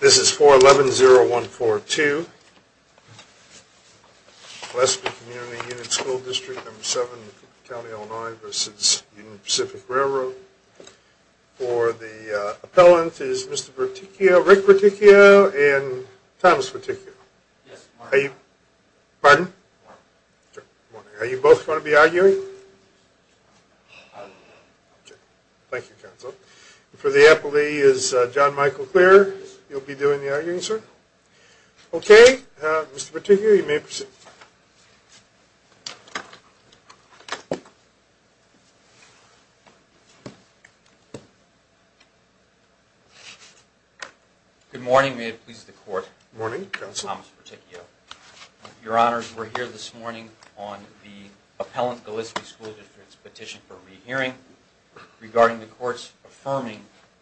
This is 411-0142, Gillespie Community Unit School District No. 7, County Illinois v. Union Pacific Railroad. For the appellant is Mr. Berticchio, Rick Berticchio and Thomas Berticchio. Yes, good morning. Pardon? Good morning. Are you both going to be arguing? I'll be arguing. Okay, thank you counsel. For the appellee is John Michael Clear, you'll be doing the arguing sir. Okay, Mr. Berticchio you may proceed. Good morning, may it please the court. Good morning, counsel. Thomas Berticchio. Your honors, we're here this morning on the appellant Gillespie School District's petition for re-hearing regarding the court's affirming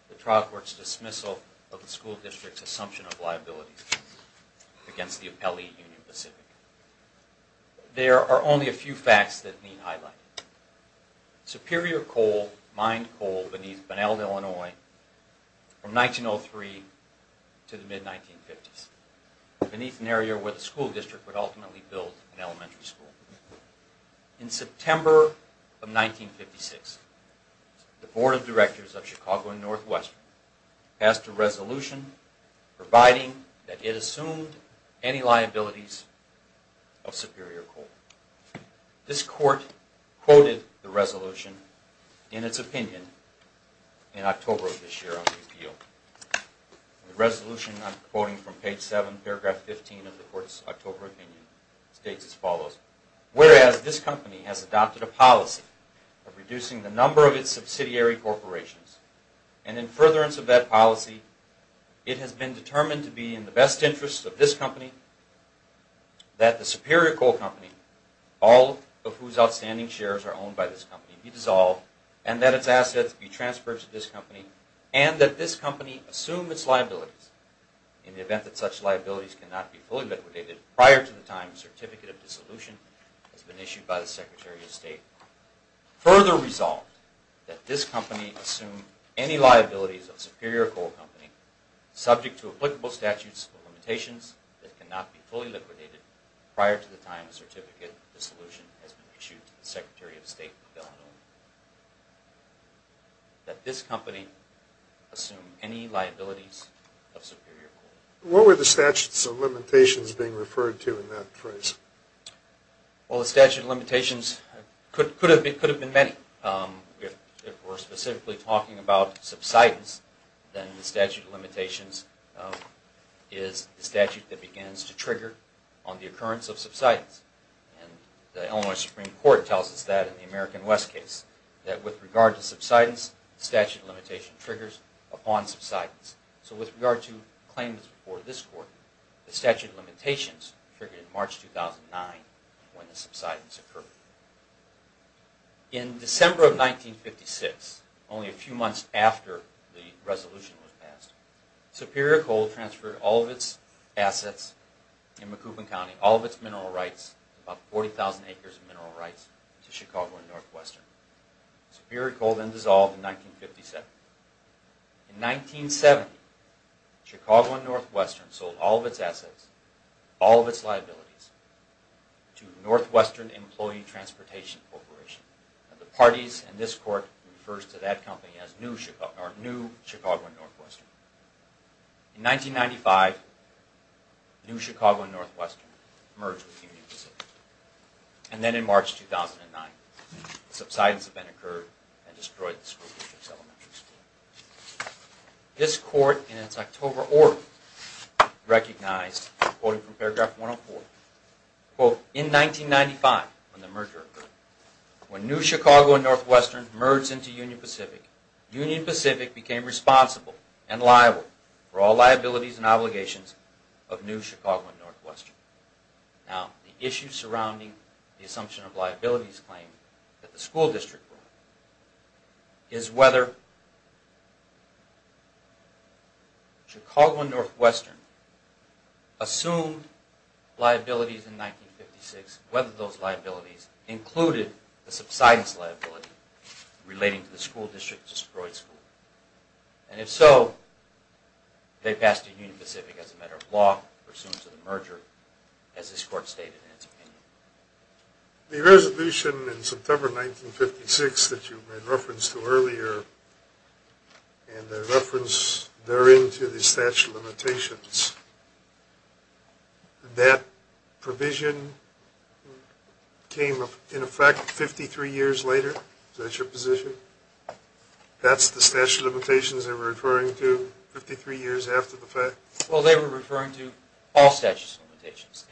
the trial court's dismissal of the school district's assumption of liability against the appellee, Union Pacific. There are only a few facts that need highlighting. Superior coal, mined coal beneath Bunnell, Illinois from 1903 to the mid-1950s, beneath an area where the school district would ultimately build an elementary school. In September of 1956, the Board of Directors of Chicago and Northwestern passed a resolution providing that it assumed any liabilities of superior coal. This court quoted the resolution in its opinion in October of this year on the appeal. The resolution I'm quoting from page 7, paragraph 15 of the court's October opinion states as follows, whereas this company has adopted a policy of reducing the number of its subsidiary corporations and in furtherance of that policy, it has been determined to be in the best interest of this company that the superior coal company, all of whose outstanding shares are owned by this company, be dissolved and that its assets be transferred to this company and that this company assume its liabilities in the event that such liabilities cannot be fully liquidated prior to the time the certificate of dissolution has been issued by the Secretary of State. Further resolved that this company assume any liabilities of superior coal company subject to applicable statutes or limitations that cannot be fully liquidated prior to the time the certificate of dissolution has been issued by the Secretary of State. That this company assume any liabilities of superior coal. What were the statutes or limitations being referred to in that phrase? Well, the statute of limitations could have been many. If we're specifically talking about subsidence, then the statute of limitations is the statute that begins to trigger on the occurrence of subsidence. The Illinois Supreme Court tells us that in the American West case, that with regard to subsidence, statute of limitation triggers upon subsidence. So with regard to claims before this court, the statute of limitations triggered in March 2009 when the subsidence occurred. In December of 1956, only a few months after the resolution was passed, Superior Coal transferred all of its assets in Macoupin County, all of its mineral rights, about 40,000 acres of mineral rights to Chicago and Northwestern. Superior Coal then dissolved in 1957. In 1970, Chicago and Northwestern sold all of its assets, all of its liabilities, to Northwestern Employee Transportation Corporation. The parties in this court refers to that company as New Chicago and Northwestern. In 1995, New Chicago and Northwestern merged with Union Pacific. And then in March 2009, subsidence then occurred and destroyed the school district's elementary school. This court, in its October order, recognized, quoting from paragraph 104, quote, in 1995, when the merger occurred, when New Chicago and Northwestern merged into Union Pacific, Union Pacific became responsible and liable for all liabilities and obligations of New Chicago and Northwestern. Now, the issue surrounding the assumption of liabilities claim that the school district brought is whether Chicago and Northwestern assumed liabilities in 1956, whether those liabilities included the subsidence liability relating to the school district's destroyed school. And if so, they passed to Union Pacific as a matter of law, pursuant to the merger, as this court stated in its opinion. The resolution in September 1956 that you made reference to earlier, and the reference therein to the statute of limitations, that provision came in effect 53 years later? Is that your position? That's the statute of limitations they were referring to 53 years after the fact? Well, they were referring to all statute of limitations.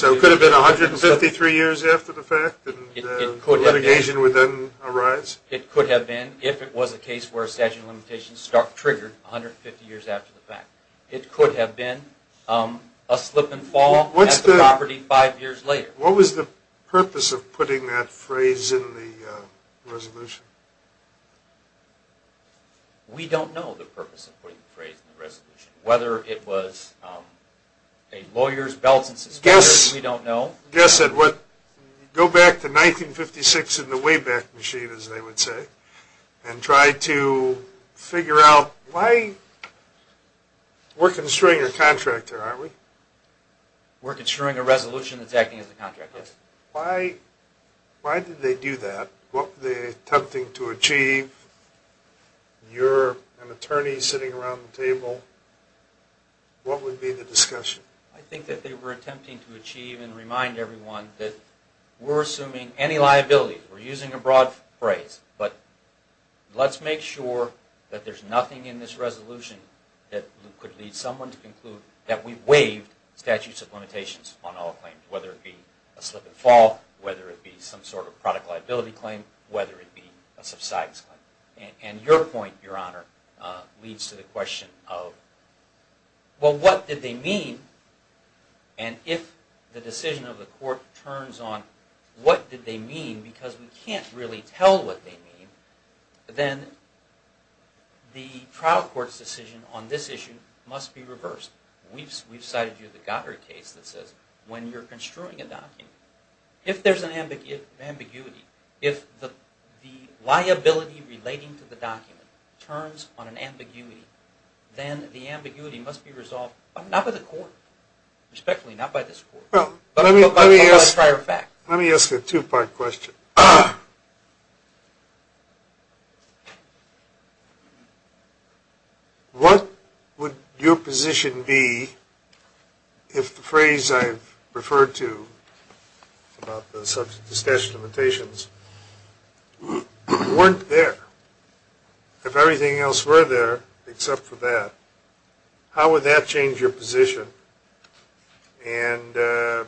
So it could have been 153 years after the fact, and litigation would then arise? It could have been, if it was a case where a statute of limitations triggered 150 years after the fact. It could have been a slip and fall at the property five years later. What was the purpose of putting that phrase in the resolution? We don't know the purpose of putting the phrase in the resolution. Whether it was a lawyer's belt and suspenders, we don't know. Go back to 1956 in the Wayback Machine, as they would say, and try to figure out why... We're construing a contract here, aren't we? We're construing a resolution that's acting as a contract, yes. Why did they do that? What were they attempting to achieve? You're an attorney sitting around the table. What would be the discussion? I think that they were attempting to achieve and remind everyone that we're assuming any liability. We're using a broad phrase. But let's make sure that there's nothing in this resolution that could lead someone to conclude that we waived statute of limitations on all claims, whether it be a slip and fall, whether it be some sort of product liability claim, whether it be a subsidence claim. And your point, Your Honor, leads to the question of, well, what did they mean? And if the decision of the court turns on what did they mean, because we can't really tell what they mean, then the trial court's decision on this issue must be reversed. We've cited you in the Goddard case that says when you're construing a document, if there's an ambiguity, if the liability relating to the document turns on an ambiguity, then the ambiguity must be resolved, not by the court, respectfully, not by this court, but by prior fact. Let me ask a two-part question. One, what would your position be if the phrase I've referred to about the statute of limitations weren't there? If everything else were there except for that, how would that change your position? And I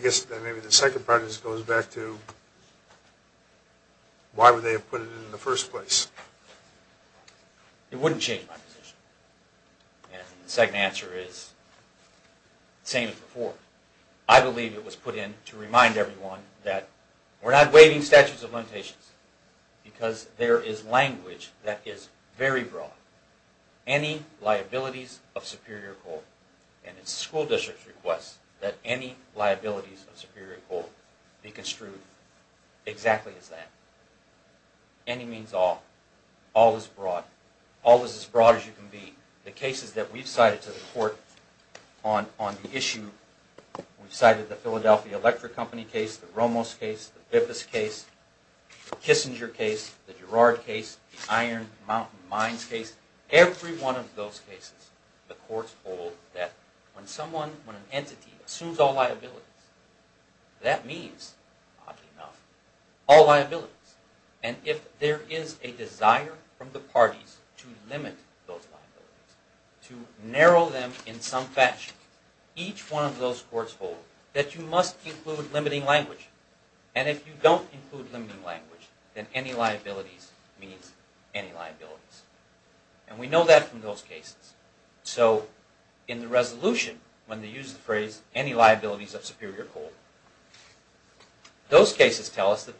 guess maybe the second part just goes back to, why would they have put it in the first place? It wouldn't change my position. And the second answer is the same as before. I believe it was put in to remind everyone that we're not waiving statutes of limitations because there is language that is very broad. Any liabilities of superior code, and it's school district's request that any liabilities of superior code be construed exactly as that. Any means all. All is broad. All is as broad as you can be. The cases that we've cited to the court on the issue, we've cited the Philadelphia Electric Company case, the Ramos case, the Bibas case, the Kissinger case, the Girard case, the Iron Mountain Mines case. Every one of those cases, the courts hold that when someone, when an entity assumes all liabilities, that means, oddly enough, all liabilities. And if there is a desire from the parties to limit those liabilities, to narrow them in some fashion, each one of those courts hold that you must include limiting language. And if you don't include limiting language, then any liabilities means any liabilities. And we know that from those cases. So in the resolution, when they use the phrase, any liabilities of superior code, those cases tell us that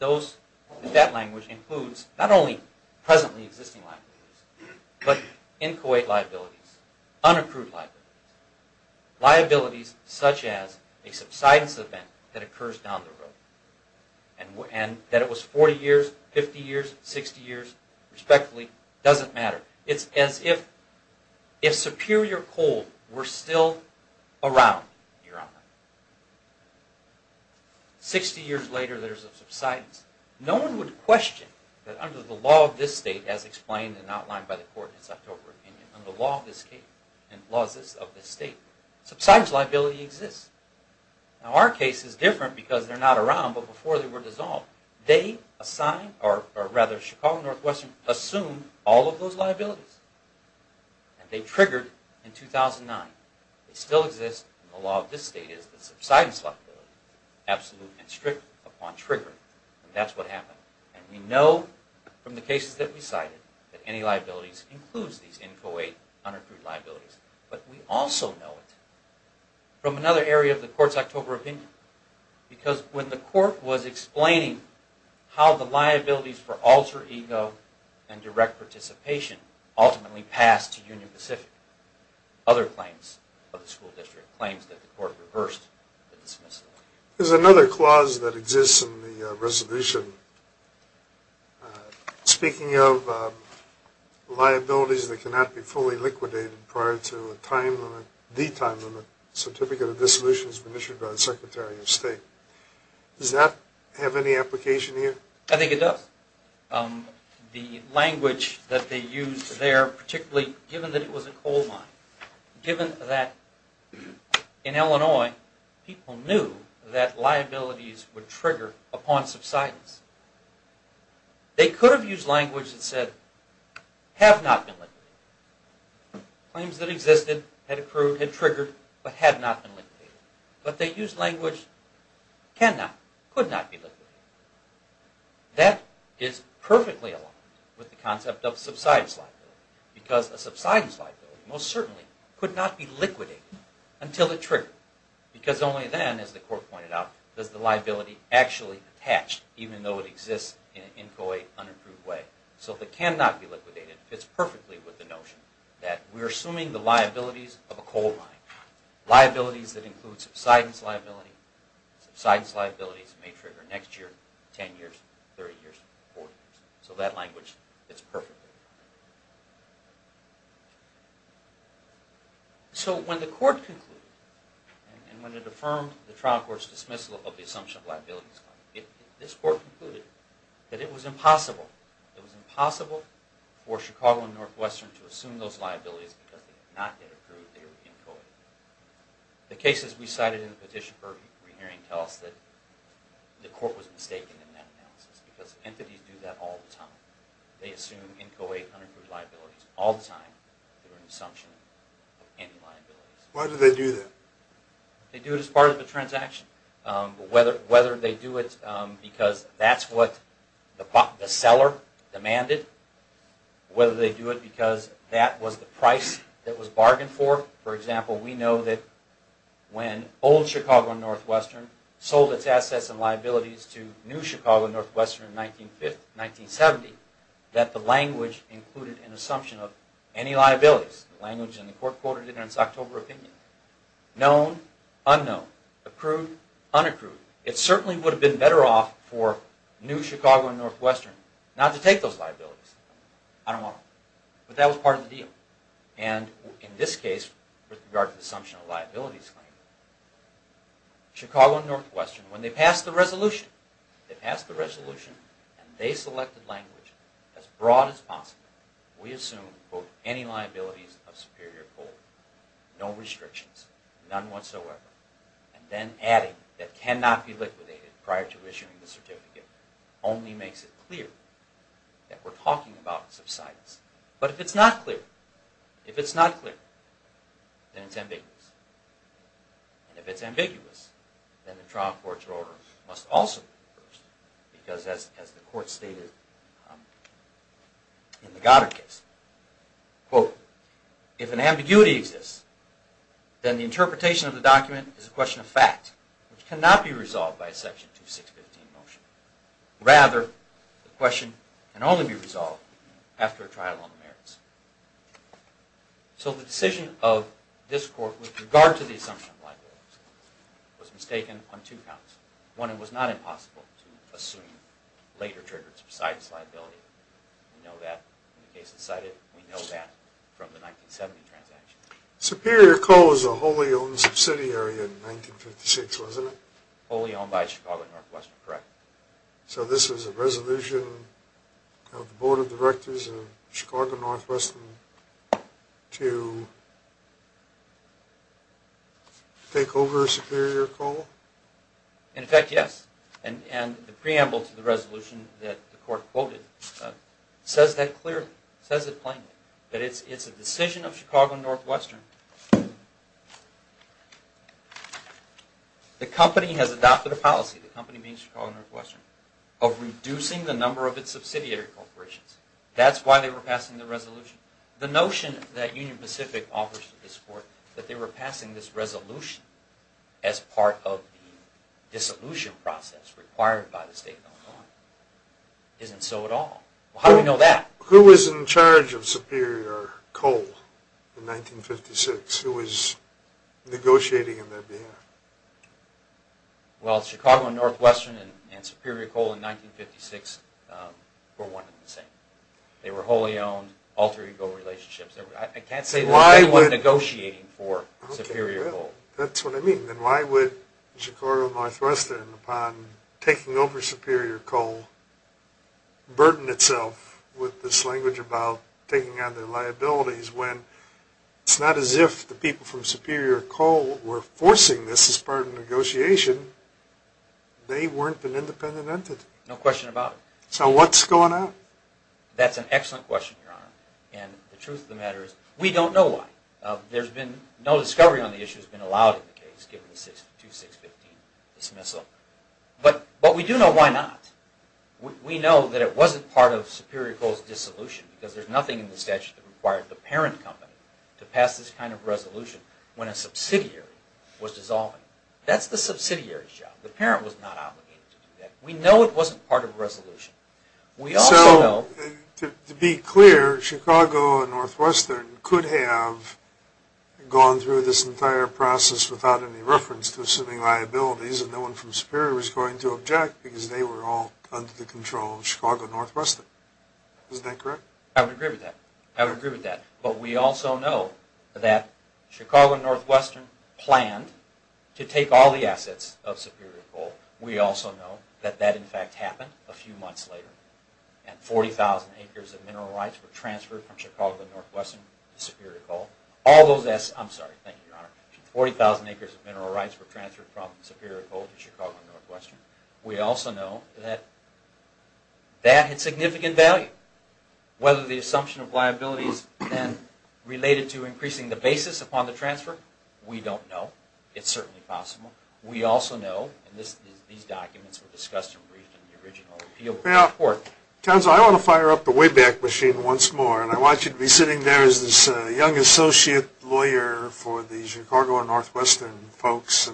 that language includes not only presently existing liabilities, but inchoate liabilities, unaccrued liabilities. Liabilities such as a subsidence event that occurs down the road, and that it was 40 years, 50 years, 60 years, respectfully, doesn't matter. It's as if superior code were still around, Your Honor. 60 years later, there's a subsidence. No one would question that under the law of this state, as explained and outlined by the court in its October opinion, under the law of this state, subsidence liability exists. Now our case is different because they're not around, but before they were dissolved, they assigned, or rather, Chicago Northwestern assumed all of those liabilities. And they triggered in 2009. They still exist, and the law of this state is that subsidence liability, absolute and strict upon triggering, and that's what happened. And we know from the cases that we cited that any liabilities includes these inchoate, unaccrued liabilities. But we also know it from another area of the court's October opinion, because when the court was explaining how the liabilities for alter ego and direct participation ultimately passed to Union Pacific, other claims of the school district, claims that the court reversed the dismissal. There's another clause that exists in the resolution. Speaking of liabilities that cannot be fully liquidated prior to the time limit, Certificate of Dissolution has been issued by the Secretary of State. Does that have any application here? I think it does. The language that they used there, particularly given that it was a coal mine, given that in Illinois people knew that liabilities would trigger upon subsidence, they could have used language that said, have not been liquidated. Claims that existed, had accrued, had triggered, but had not been liquidated. But they used language, cannot, could not be liquidated. That is perfectly aligned with the concept of subsidence liability, because a subsidence liability most certainly could not be liquidated until it triggered. Because only then, as the court pointed out, does the liability actually attach, even though it exists in an unapproved way. So if it cannot be liquidated, it fits perfectly with the notion that we're assuming the liabilities of a coal mine. Liabilities that include subsidence liability. Subsidence liabilities may trigger next year, 10 years, 30 years, 40 years. So that language fits perfectly. So when the court concluded, and when it affirmed the trial court's dismissal of the assumption of liabilities, this court concluded that it was impossible, it was impossible for Chicago and Northwestern to assume those liabilities because they did not get accrued, they were encoded. The cases we cited in the petition for re-hearing tell us that the court was mistaken in that analysis. Because entities do that all the time. They assume NCOA unapproved liabilities all the time. They're an assumption of any liabilities. Why do they do that? They do it as part of a transaction. Whether they do it because that's what the seller demanded, whether they do it because that was the price that was bargained for. For example, we know that when old Chicago and Northwestern sold its assets and liabilities to new Chicago and Northwestern in 1970, that the language included an assumption of any liabilities. The language in the court quoted in its October opinion. Known, unknown. Approved, unapproved. It certainly would have been better off for new Chicago and Northwestern not to take those liabilities. I don't want them. But that was part of the deal. And in this case, with regard to the assumption of liabilities claim, Chicago and Northwestern, when they passed the resolution, they passed the resolution and they selected language as broad as possible. We assume, quote, any liabilities of superior quality. No restrictions. None whatsoever. And then adding that cannot be liquidated prior to issuing the certificate only makes it clear that we're talking about subsidence. But if it's not clear, then it's ambiguous. And if it's ambiguous, then the trial court's order must also be reversed. Because as the court stated in the Goddard case, quote, if an ambiguity exists, then the interpretation of the document is a question of fact, which cannot be resolved by a section 2615 motion. Rather, the question can only be resolved after a trial on the merits. So the decision of this court with regard to the assumption of liabilities was mistaken on two counts. One, it was not impossible to assume later triggers besides liability. We know that in the case that's cited. We know that from the 1970 transaction. Superior Co. was a wholly owned subsidiary in 1956, wasn't it? Wholly owned by Chicago and Northwestern, correct. So this was a resolution of the board of directors of Chicago and Northwestern to take over Superior Co.? In effect, yes. And the preamble to the resolution that the court quoted says that clearly, says it plainly, that it's a decision of Chicago and Northwestern. The company has adopted a policy, the company being Chicago and Northwestern, of reducing the number of its subsidiary corporations. That's why they were passing the resolution. The notion that Union Pacific offers to this court that they were passing this resolution as part of the dissolution process required by the state of Illinois isn't so at all. How do we know that? Who was negotiating on their behalf? Well, Chicago and Northwestern and Superior Co.? in 1956 were one and the same. They were wholly owned, alter ego relationships. I can't say that they were negotiating for Superior Co.? That's what I mean. Then why would Chicago and Northwestern, upon taking over Superior Co.? burden itself with this language about taking on their liabilities when it's not as if the people from Superior Co.? were forcing this as part of negotiation. They weren't an independent entity. No question about it. So what's going on? That's an excellent question, Your Honor. And the truth of the matter is we don't know why. There's been no discovery on the issue that's been allowed in the case given the 2-6-15 dismissal. But we do know why not. We know that it wasn't part of Superior Co.?'s dissolution because there's nothing in the statute that required the parent company to pass this kind of resolution when a subsidiary was dissolving it. That's the subsidiary's job. The parent was not obligated to do that. We know it wasn't part of the resolution. So to be clear, Chicago and Northwestern could have gone through this entire process without any reference to assuming liabilities, and no one from Superior was going to object because they were all under the control of Chicago and Northwestern. Isn't that correct? I would agree with that. I would agree with that. But we also know that Chicago and Northwestern planned to take all the assets of Superior Co.? We also know that that, in fact, happened a few months later and 40,000 acres of mineral rights were transferred from Chicago and Northwestern to Superior Co.? I'm sorry, thank you, Your Honor. 40,000 acres of mineral rights were transferred from Superior Co.? to Chicago and Northwestern. We also know that that had significant value. Whether the assumption of liabilities then related to increasing the basis upon the transfer, we don't know. It's certainly possible. We also know, and these documents were discussed and briefed in the original appeal report. Well, counsel, I want to fire up the Wayback Machine once more, and I want you to be sitting there as this young associate lawyer for the Chicago and Northwestern folks.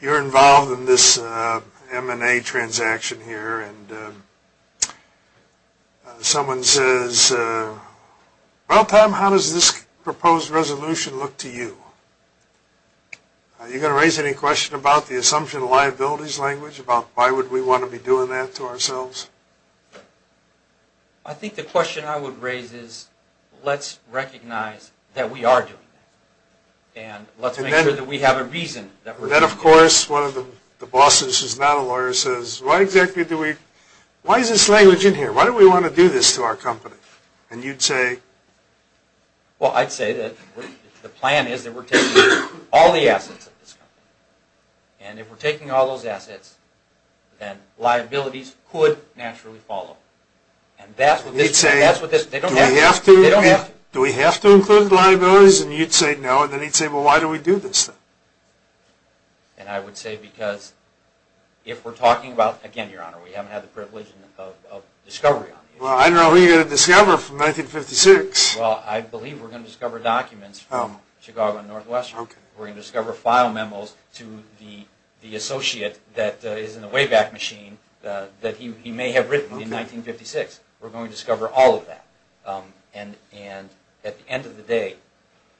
You're involved in this M&A transaction here, and someone says, Well, Tom, how does this proposed resolution look to you? Are you going to raise any question about the assumption of liabilities language, about why would we want to be doing that to ourselves? I think the question I would raise is, let's recognize that we are doing that, and let's make sure that we have a reason that we're doing it. Then, of course, one of the bosses who's not a lawyer says, Why is this language in here? Why do we want to do this to our company? And you'd say, Well, I'd say that the plan is that we're taking all the assets of this company. And if we're taking all those assets, then liabilities could naturally follow. And that's what they don't have to. Do we have to include liabilities? And you'd say no. And then he'd say, Well, why do we do this then? And I would say because if we're talking about, again, Your Honor, we haven't had the privilege of discovery on the issue. Well, I don't know who you're going to discover from 1956. Well, I believe we're going to discover documents from Chicago and Northwestern. We're going to discover file memos to the associate that is in the Wayback Machine that he may have written in 1956. We're going to discover all of that. And at the end of the day,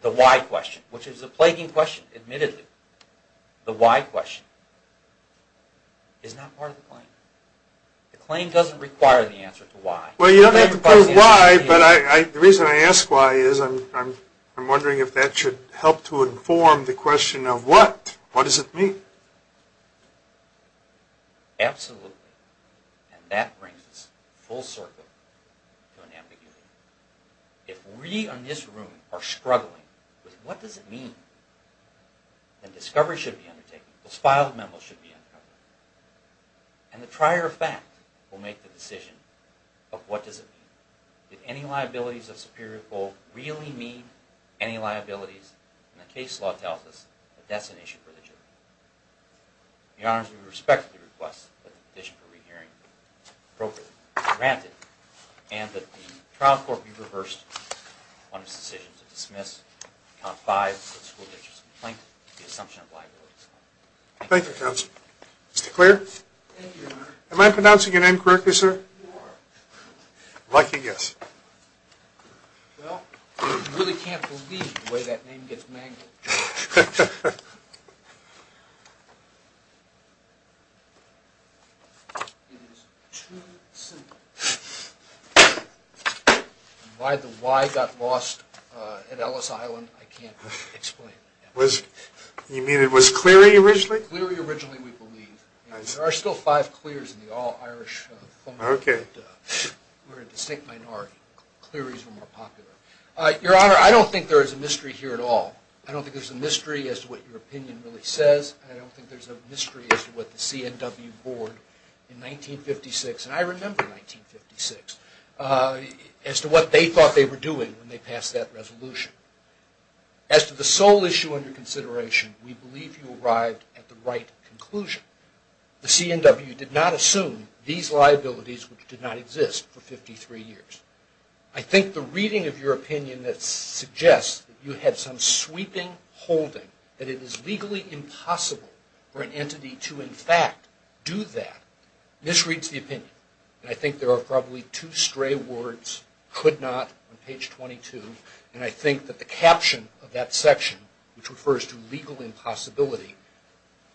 the why question, which is a plaguing question, admittedly, the why question, is not part of the claim. The claim doesn't require the answer to why. Well, you don't have to prove why, but the reason I ask why is I'm wondering if that should help to inform the question of what. What does it mean? Absolutely. And that brings us full circle to an ambiguity. If we in this room are struggling with what does it mean, then discovery should be undertaken. Those filed memos should be uncovered. And the prior fact will make the decision of what does it mean. Did any liabilities of superior gold really mean any liabilities? And the case law tells us that that's an issue for the jury. Your Honor, we respectfully request that the petition for re-hearing be appropriately granted and that the trial court be reversed on its decision to dismiss Act 5 of the school district's complaint, the assumption of liabilities. Thank you, Counselor. Mr. Clear? Thank you, Your Honor. Am I pronouncing your name correctly, sir? You are. I'd like to guess. Well, you really can't believe the way that name gets mangled. It is too simple. Why the Y got lost at Ellis Island, I can't explain. You mean it was Cleary originally? Cleary originally, we believe. There are still five Clears in the all-Irish phone book, but we're a distinct minority. Cleary's are more popular. Your Honor, I don't think there is a mystery here at all. I don't think there's a mystery as to what your opinion really says. I don't think there's a mystery as to what the CNW board in 1956, and I remember 1956, as to what they thought they were doing when they passed that resolution. As to the sole issue under consideration, we believe you arrived at the right conclusion. The CNW did not assume these liabilities, which did not exist, for 53 years. I think the reading of your opinion that suggests that you had some sweeping holding, that it is legally impossible for an entity to in fact do that, misreads the opinion. I think there are probably two stray words, could not, on page 22, and I think that the caption of that section, which refers to legal impossibility,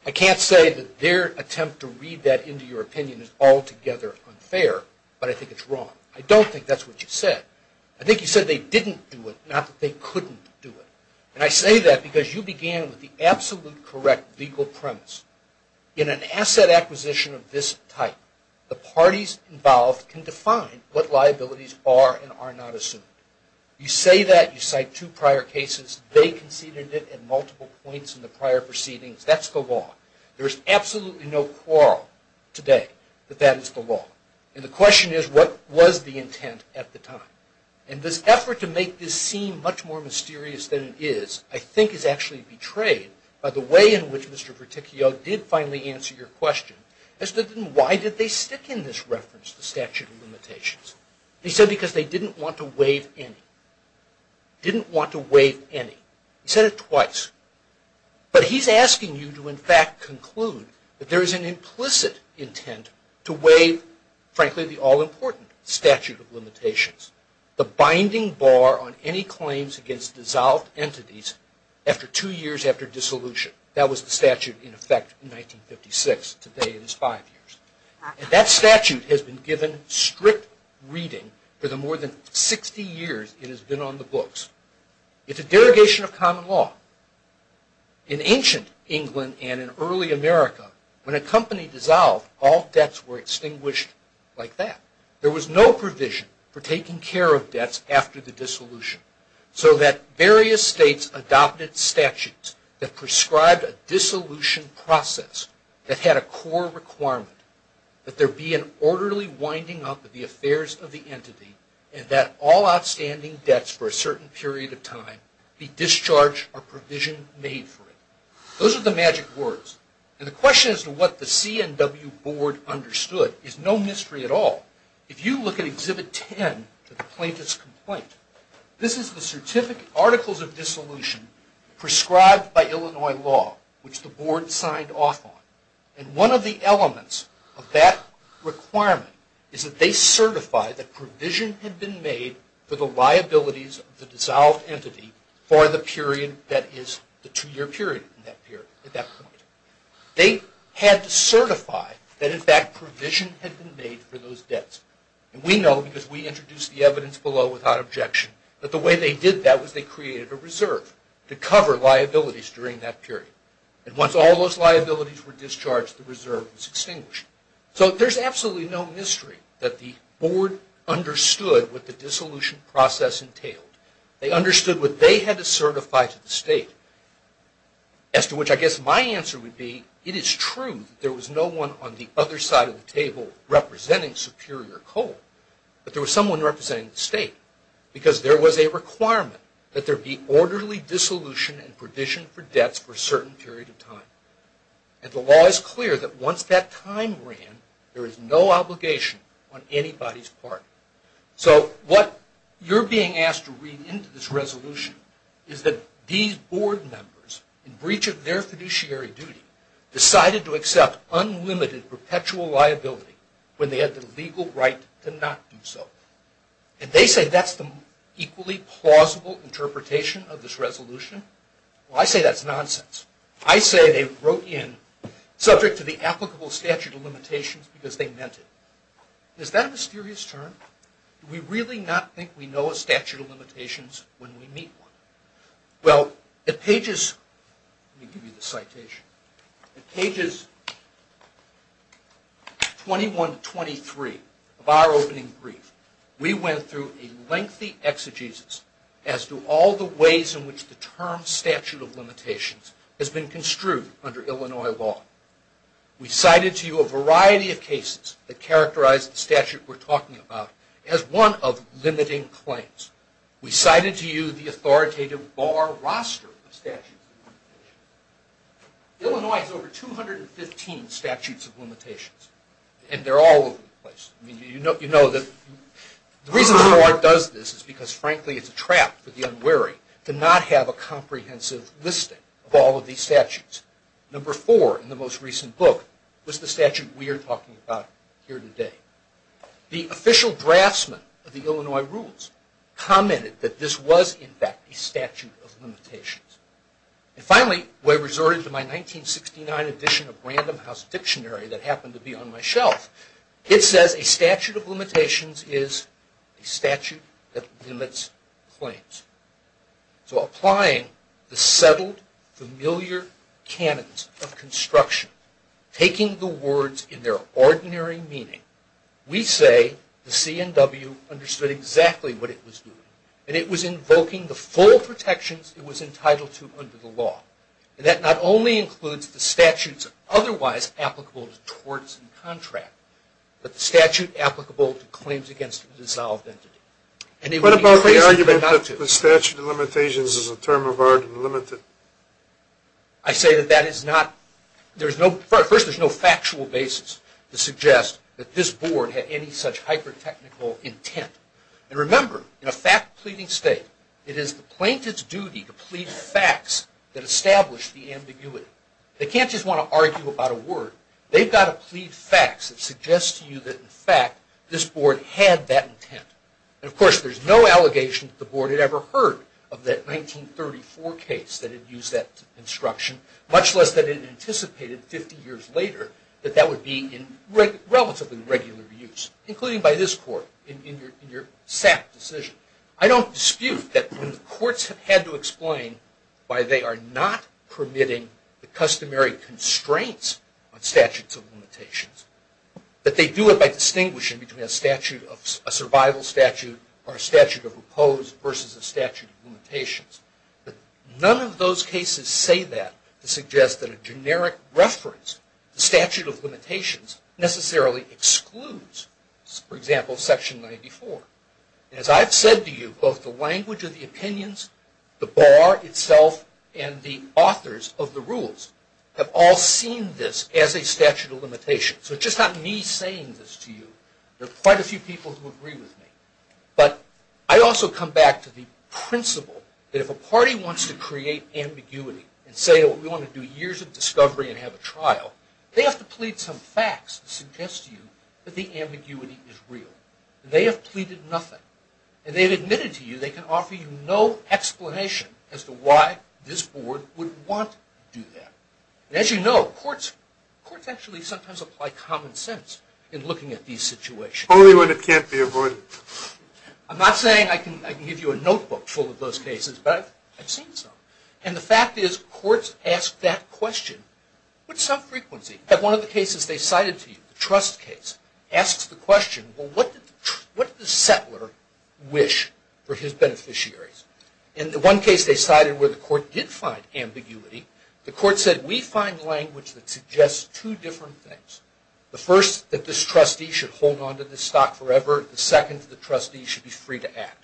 I can't say that their attempt to read that into your opinion is altogether unfair, but I think it's wrong. I don't think that's what you said. I think you said they didn't do it, not that they couldn't do it. And I say that because you began with the absolute correct legal premise. In an asset acquisition of this type, the parties involved can define what liabilities are and are not assumed. You say that, you cite two prior cases, they conceded it at multiple points in the prior proceedings, that's the law. There is absolutely no quarrel today that that is the law. And the question is, what was the intent at the time? And this effort to make this seem much more mysterious than it is, I think is actually betrayed by the way in which Mr. Verticchio did finally answer your question, as to why did they stick in this reference to statute of limitations? He said because they didn't want to waive any. Didn't want to waive any. He said it twice. But he's asking you to, in fact, conclude that there is an implicit intent to waive, frankly, the all-important statute of limitations, the binding bar on any claims against dissolved entities after two years after dissolution. That was the statute in effect in 1956. Today it is five years. And that statute has been given strict reading for the more than 60 years it has been on the books. It's a derogation of common law. In ancient England and in early America, when a company dissolved, all debts were extinguished like that. There was no provision for taking care of debts after the dissolution. So that various states adopted statutes that prescribed a dissolution process that had a core requirement that there be an orderly winding up of the affairs of the entity and that all outstanding debts for a certain period of time be discharged or provision made for it. Those are the magic words. And the question as to what the CNW Board understood is no mystery at all. If you look at Exhibit 10, the plaintiff's complaint, this is the Certificate Articles of Dissolution prescribed by Illinois law, which the Board signed off on. And one of the elements of that requirement is that they certify that provision had been made for the liabilities of the dissolved entity for the period that is the two-year period at that point. They had to certify that in fact provision had been made for those debts. And we know because we introduced the evidence below without objection that the way they did that was they created a reserve to cover liabilities during that period. And once all those liabilities were discharged, the reserve was extinguished. So there's absolutely no mystery that the Board understood what the dissolution process entailed. They understood what they had to certify to the state, as to which I guess my answer would be it is true that there was no one on the other side of the table representing Superior Coal, but there was someone representing the state because there was a requirement that there be orderly dissolution and provision for debts for a certain period of time. And the law is clear that once that time ran, there is no obligation on anybody's part. So what you're being asked to read into this resolution is that these Board members, in breach of their fiduciary duty, decided to accept unlimited perpetual liability when they had the legal right to not do so. And they say that's the equally plausible interpretation of this resolution. Well, I say that's nonsense. I say they wrote in subject to the applicable statute of limitations because they meant it. Is that a mysterious term? Do we really not think we know a statute of limitations when we meet one? Well, at pages 21 to 23 of our opening brief, we went through a lengthy exegesis as to all the ways in which the term statute of limitations has been construed under Illinois law. We cited to you a variety of cases that characterized the statute we're talking about as one of limiting claims. We cited to you the authoritative bar roster of statutes of limitations. Illinois has over 215 statutes of limitations, and they're all over the place. The reason the Board does this is because, frankly, it's a trap for the unwary to not have a comprehensive listing of all of these statutes. Number four in the most recent book was the statute we are talking about here today. The official draftsman of the Illinois rules commented that this was, in fact, a statute of limitations. And finally, we resorted to my 1969 edition of Random House Dictionary that happened to be on my shelf. It says a statute of limitations is a statute that limits claims. So applying the settled, familiar canons of construction, taking the words in their ordinary meaning, we say the C&W understood exactly what it was doing. And it was invoking the full protections it was entitled to under the law. And that not only includes the statutes otherwise applicable to torts and contracts, but the statute applicable to claims against a dissolved entity. What about the argument that the statute of limitations is a term of art and limited? I say that that is not... First, there's no factual basis to suggest that this Board had any such hyper-technical intent. And remember, in a fact-pleading state, it is the plaintiff's duty to plead facts that establish the ambiguity. They can't just want to argue about a word. They've got to plead facts that suggest to you that, in fact, this Board had that intent. And, of course, there's no allegation that the Board had ever heard of that 1934 case that had used that construction, much less that it anticipated 50 years later that that would be in relatively regular use, including by this Court in your SAP decision. I don't dispute that courts have had to explain why they are not permitting the customary constraints on statutes of limitations, that they do it by distinguishing between a survival statute or a statute of opposed versus a statute of limitations. But none of those cases say that to suggest that a generic reference, the statute of limitations, necessarily excludes, for example, Section 94. As I've said to you, both the language of the opinions, the bar itself, and the authors of the rules have all seen this as a statute of limitations. So it's just not me saying this to you. There are quite a few people who agree with me. But I also come back to the principle that if a party wants to create ambiguity and say, oh, we want to do years of discovery and have a trial, they have to plead some facts that suggest to you that the ambiguity is real. They have pleaded nothing. And they've admitted to you they can offer you no explanation as to why this board would want to do that. And as you know, courts actually sometimes apply common sense in looking at these situations. Only when it can't be avoided. I'm not saying I can give you a notebook full of those cases, but I've seen some. And the fact is courts ask that question with some frequency. One of the cases they cited to you, the trust case, asks the question, well, what did the settler wish for his beneficiaries? In the one case they cited where the court did find ambiguity, the court said we find language that suggests two different things. The first, that this trustee should hold on to this stock forever. The second, the trustee should be free to act.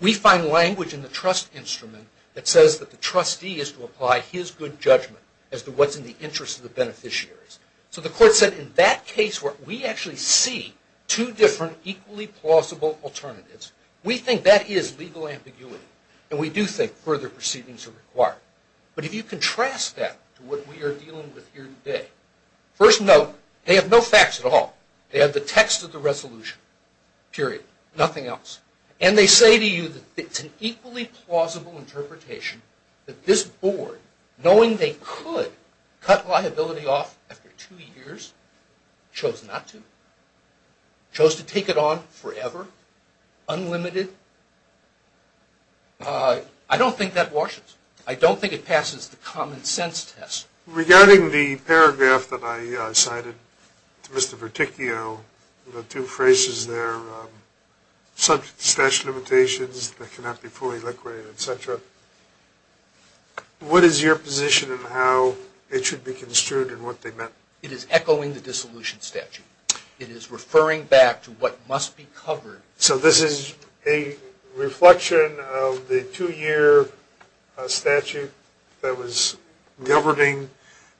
We find language in the trust instrument that says that the trustee is to apply his good judgment as to what's in the interest of the beneficiaries. So the court said in that case where we actually see two different equally plausible alternatives, we think that is legal ambiguity. And we do think further proceedings are required. But if you contrast that to what we are dealing with here today, first note, they have no facts at all. They have the text of the resolution. Period. Nothing else. And they say to you that it's an equally plausible interpretation that this board, knowing they could cut liability off after two years, chose not to. Chose to take it on forever, unlimited. I don't think that washes. I don't think it passes the common sense test. Regarding the paragraph that I cited to Mr. Verticchio, the two phrases there, statute of limitations that cannot be fully liquidated, et cetera, what is your position on how it should be construed and what they meant? It is echoing the dissolution statute. It is referring back to what must be covered. So this is a reflection of the two-year statute that was governing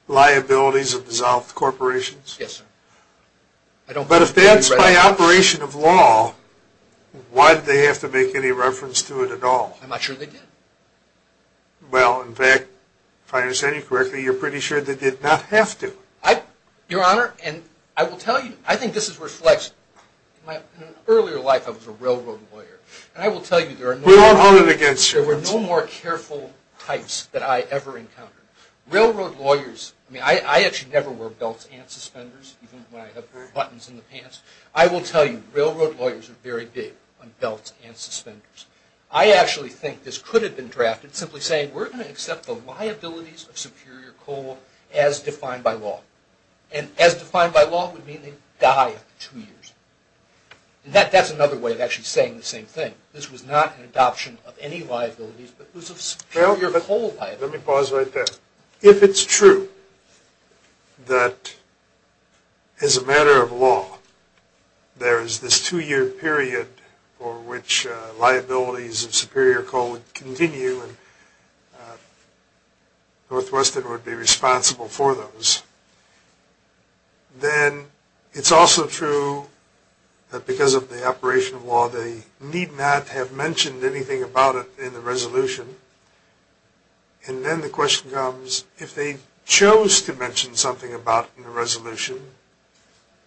liabilities of dissolved corporations? Yes, sir. But if that's by operation of law, why did they have to make any reference to it at all? I'm not sure they did. Well, in fact, if I understand you correctly, you're pretty sure they did not have to. Your Honor, and I will tell you, I think this is reflected. In an earlier life I was a railroad lawyer. And I will tell you there are no more careful types that I ever encountered. Railroad lawyers, I mean, I actually never wore belts and suspenders, even when I had buttons in the pants. I will tell you railroad lawyers are very big on belts and suspenders. I actually think this could have been drafted simply saying, we're going to accept the liabilities of superior coal as defined by law. And as defined by law would mean they die after two years. And that's another way of actually saying the same thing. This was not an adoption of any liabilities, but it was of superior coal liabilities. Let me pause right there. If it's true that as a matter of law there is this two-year period for which liabilities of superior coal would continue and Northwestern would be responsible for those, then it's also true that because of the operation of law and then the question comes, if they chose to mention something about it in the resolution,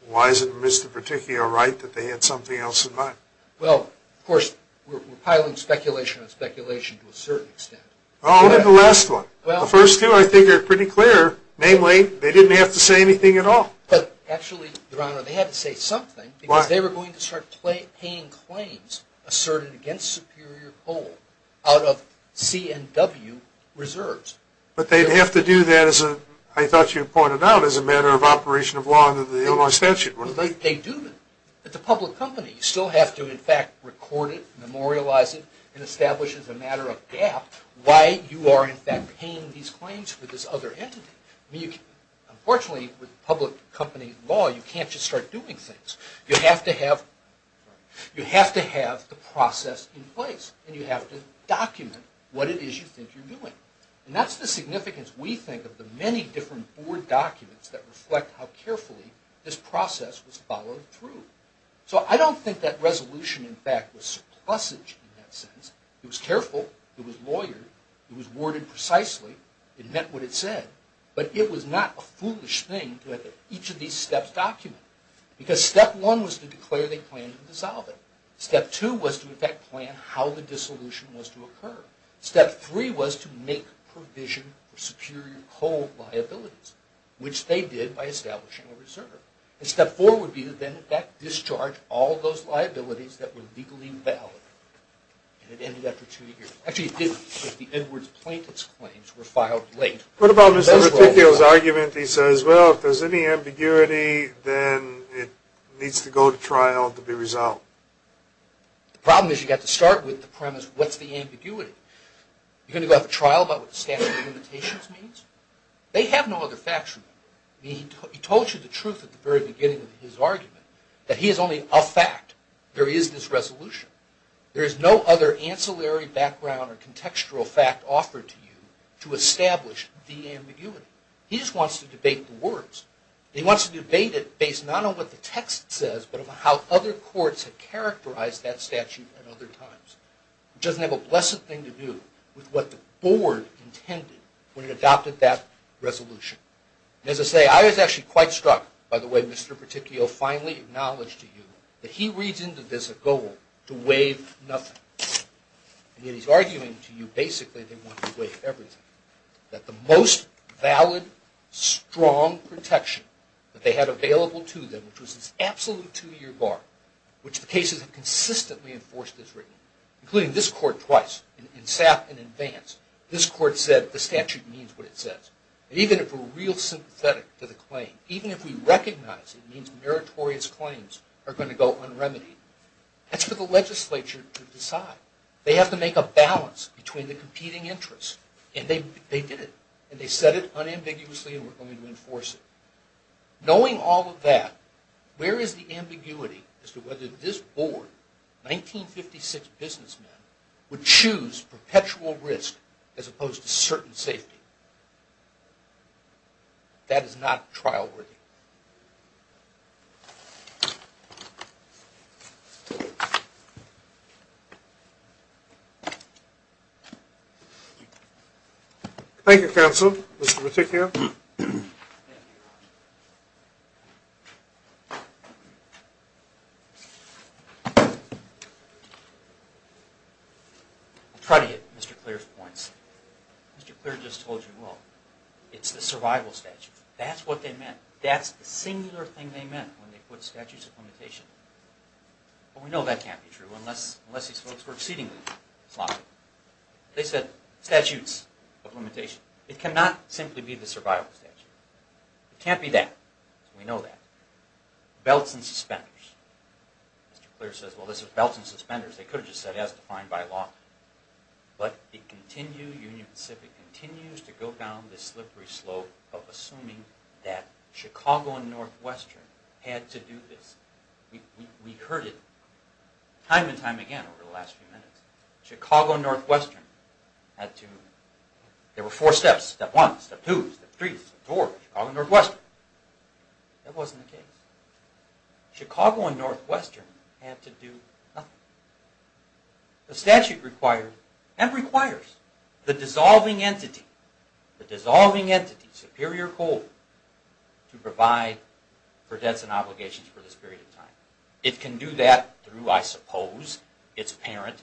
why is it in Mr. Berticchio's right that they had something else in mind? Well, of course, we're piling speculation on speculation to a certain extent. Oh, look at the last one. The first two I think are pretty clear. Namely, they didn't have to say anything at all. But actually, Your Honor, they had to say something because they were going to start paying claims asserted against superior coal out of CNW reserves. But they'd have to do that, I thought you pointed out, as a matter of operation of law under the Illinois statute. They do. It's a public company. You still have to, in fact, record it, memorialize it, and establish as a matter of gap why you are, in fact, paying these claims for this other entity. Unfortunately, with public company law, you can't just start doing things. You have to have the process in place and you have to document what it is you think you're doing. And that's the significance, we think, of the many different board documents that reflect how carefully this process was followed through. So I don't think that resolution, in fact, was surplusage in that sense. It was careful. It was lawyered. It was worded precisely. It meant what it said. But it was not a foolish thing to have each of these steps documented because step one was to declare they planned to dissolve it. Step two was to, in fact, plan how the dissolution was to occur. Step three was to make provision for superior cold liabilities, which they did by establishing a reserve. And step four would be to then, in fact, discharge all those liabilities that were legally valid. And it ended after two years. Actually, it did if the Edwards plaintiff's claims were filed late. What about Mr. Reticchio's argument? He says, well, if there's any ambiguity, then it needs to go to trial to be resolved. The problem is you've got to start with the premise, what's the ambiguity? You're going to go to trial about what the statute of limitations means? They have no other factual. He told you the truth at the very beginning of his argument, that he is only a fact. There is this resolution. There is no other ancillary background or contextual fact offered to you to establish the ambiguity. He just wants to debate the words. He wants to debate it based not on what the text says, but on how other courts have characterized that statute at other times. It doesn't have a blessed thing to do with what the board intended when it adopted that resolution. And as I say, I was actually quite struck by the way Mr. Reticchio finally acknowledged to you that he reads into this a goal to waive nothing. And yet he's arguing to you basically they want to waive everything, that the most valid, strong protection that they had available to them, which was this absolute two-year bar, which the cases have consistently enforced as written, including this court twice, in SAP and in Vance, this court said the statute means what it says. Even if we're real sympathetic to the claim, even if we recognize it means meritorious claims are going to go unremitied, that's for the legislature to decide. They have to make a balance between the competing interests, and they did it, and they said it unambiguously, and we're going to enforce it. Knowing all of that, where is the ambiguity as to whether this board, 1956 businessmen, would choose perpetual risk as opposed to certain safety? That is not trial worthy. Thank you, counsel. Mr. Reticchio. I'll try to hit Mr. Clear's points. Mr. Clear just told you, well, it's the survival statute. That's what they meant. That's the singular thing they meant when they put statutes of limitation. But we know that can't be true unless these folks were exceedingly sloppy. They said statutes of limitation. It cannot simply be the survival statute. It can't be that. We know that. Belts and suspenders. Mr. Clear says, well, this is belts and suspenders. They could have just said as defined by law. But it continues, Union Pacific continues to go down this slippery slope of assuming that Chicago and Northwestern had to do this. We heard it time and time again over the last few minutes. Chicago and Northwestern had to, there were four steps. Step one, step two, step three, step four, Chicago and Northwestern. That wasn't the case. Chicago and Northwestern had to do nothing. The statute requires, and requires, the dissolving entity, the dissolving entity, Superior Court, to provide for debts and obligations for this period of time. It can do that through, I suppose, its parent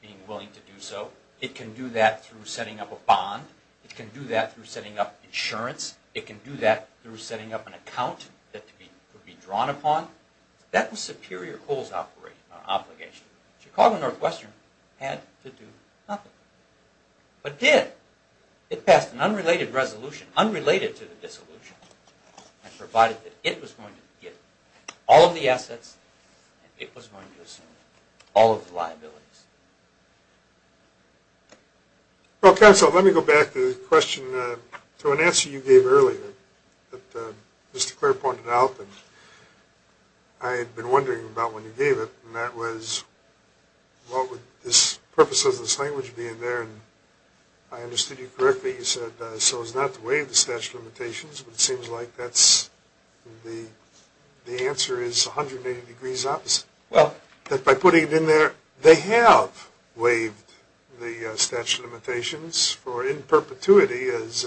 being willing to do so. It can do that through setting up a bond. It can do that through setting up insurance. It can do that through setting up an account that could be drawn upon. That was Superior Court's obligation. Chicago and Northwestern had to do nothing, but did. It passed an unrelated resolution, unrelated to the dissolution, and provided that it was going to get all of the assets and it was going to assume all of the liabilities. Well, counsel, let me go back to the question, to an answer you gave earlier that Mr. Clair pointed out, and I had been wondering about when you gave it, and that was what would this purpose of this language be in there, and I understood you correctly. You said, so as not to waive the statute of limitations, but it seems like that's the answer is 180 degrees opposite. Well. That by putting it in there, they have waived the statute of limitations for in perpetuity, as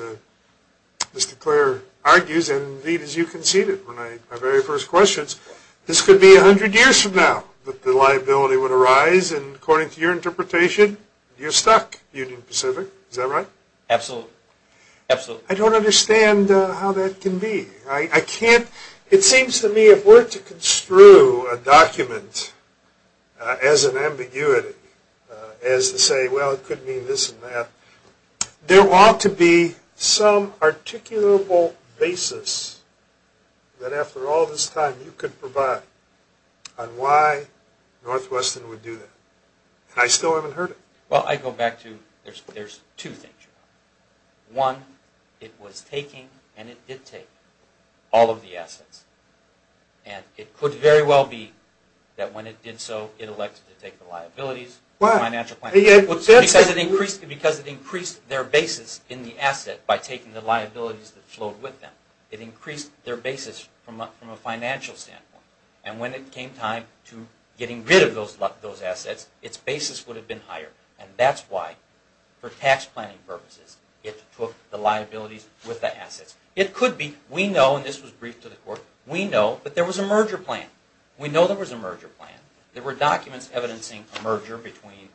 Mr. Clair argues, and indeed as you conceded in my very first questions. This could be 100 years from now that the liability would arise, and according to your interpretation, you're stuck, Union Pacific. Is that right? Absolutely. Absolutely. I don't understand how that can be. I can't. It seems to me if we're to construe a document as an ambiguity, as to say, well, it could mean this and that, there ought to be some articulable basis that after all this time you could provide on why Northwestern would do that, and I still haven't heard it. Well, I go back to there's two things. One, it was taking and it did take all of the assets, and it could very well be that when it did so, it elected to take the liabilities. Why? Because it increased their basis in the asset by taking the liabilities that flowed with them. It increased their basis from a financial standpoint, and when it came time to getting rid of those assets, its basis would have been higher, and that's why for tax planning purposes it took the liabilities with the assets. It could be we know, and this was briefed to the court, we know that there was a merger plan. We know there was a merger plan. There were documents evidencing a merger between,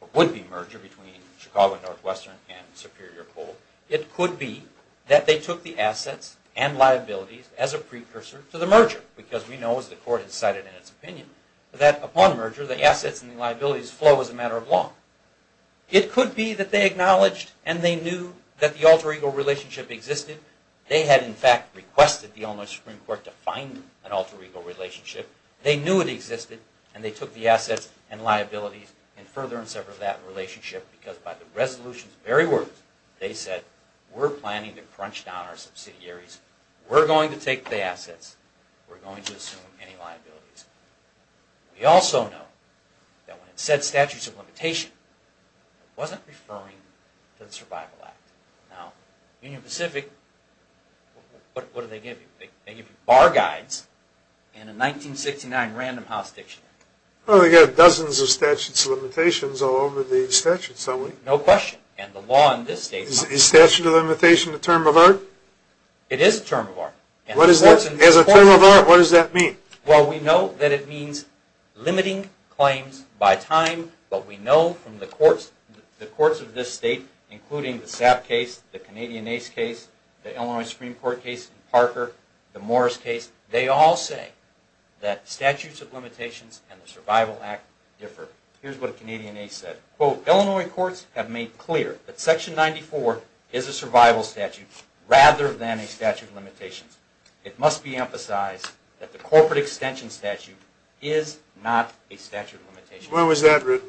or would be a merger between Chicago and Northwestern and Superior Coal. It could be that they took the assets and liabilities as a precursor to the merger because we know, as the court has cited in its opinion, that upon merger the assets and liabilities flow as a matter of law. It could be that they acknowledged and they knew that the alter ego relationship existed. They had, in fact, requested the Illinois Supreme Court to find an alter ego relationship. They knew it existed, and they took the assets and liabilities and furthered and severed that relationship because by the resolution's very words, they said, We're going to take the assets. We're going to assume any liabilities. We also know that when it said statutes of limitation, it wasn't referring to the Survival Act. Now, Union Pacific, what do they give you? They give you bar guides and a 1969 Random House Dictionary. Well, they've got dozens of statutes of limitations all over the statutes, don't they? No question, and the law in this case... It is a term of art. As a term of art, what does that mean? Well, we know that it means limiting claims by time, but we know from the courts of this state, including the Sapp case, the Canadian Ace case, the Illinois Supreme Court case in Parker, the Morris case, they all say that statutes of limitations and the Survival Act differ. Here's what a Canadian Ace said. Illinois courts have made clear that Section 94 is a survival statute rather than a statute of limitations. It must be emphasized that the corporate extension statute is not a statute of limitations. When was that written?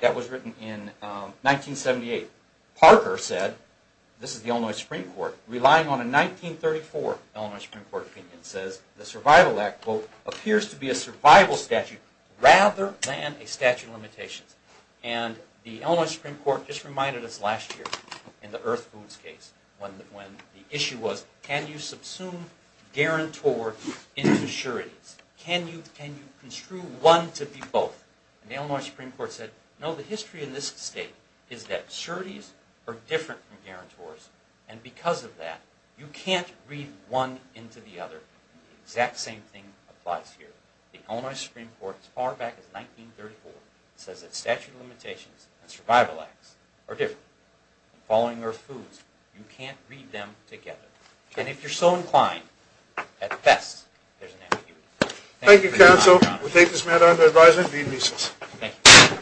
That was written in 1978. Parker said, this is the Illinois Supreme Court, relying on a 1934 Illinois Supreme Court opinion, says the Survival Act appears to be a survival statute rather than a statute of limitations. And the Illinois Supreme Court just reminded us last year in the Earth Foods case when the issue was, can you subsume guarantor into sureties? Can you construe one to be both? And the Illinois Supreme Court said, no, the history in this state is that sureties are different from guarantors, and because of that, you can't read one into the other. The exact same thing applies here. The Illinois Supreme Court, as far back as 1934, says that statute of limitations and Survival Acts are different. Following Earth Foods, you can't read them together. And if you're so inclined, at best, there's an ambiguity. Thank you, counsel. We take this matter under advisement and deem it recess. Thank you.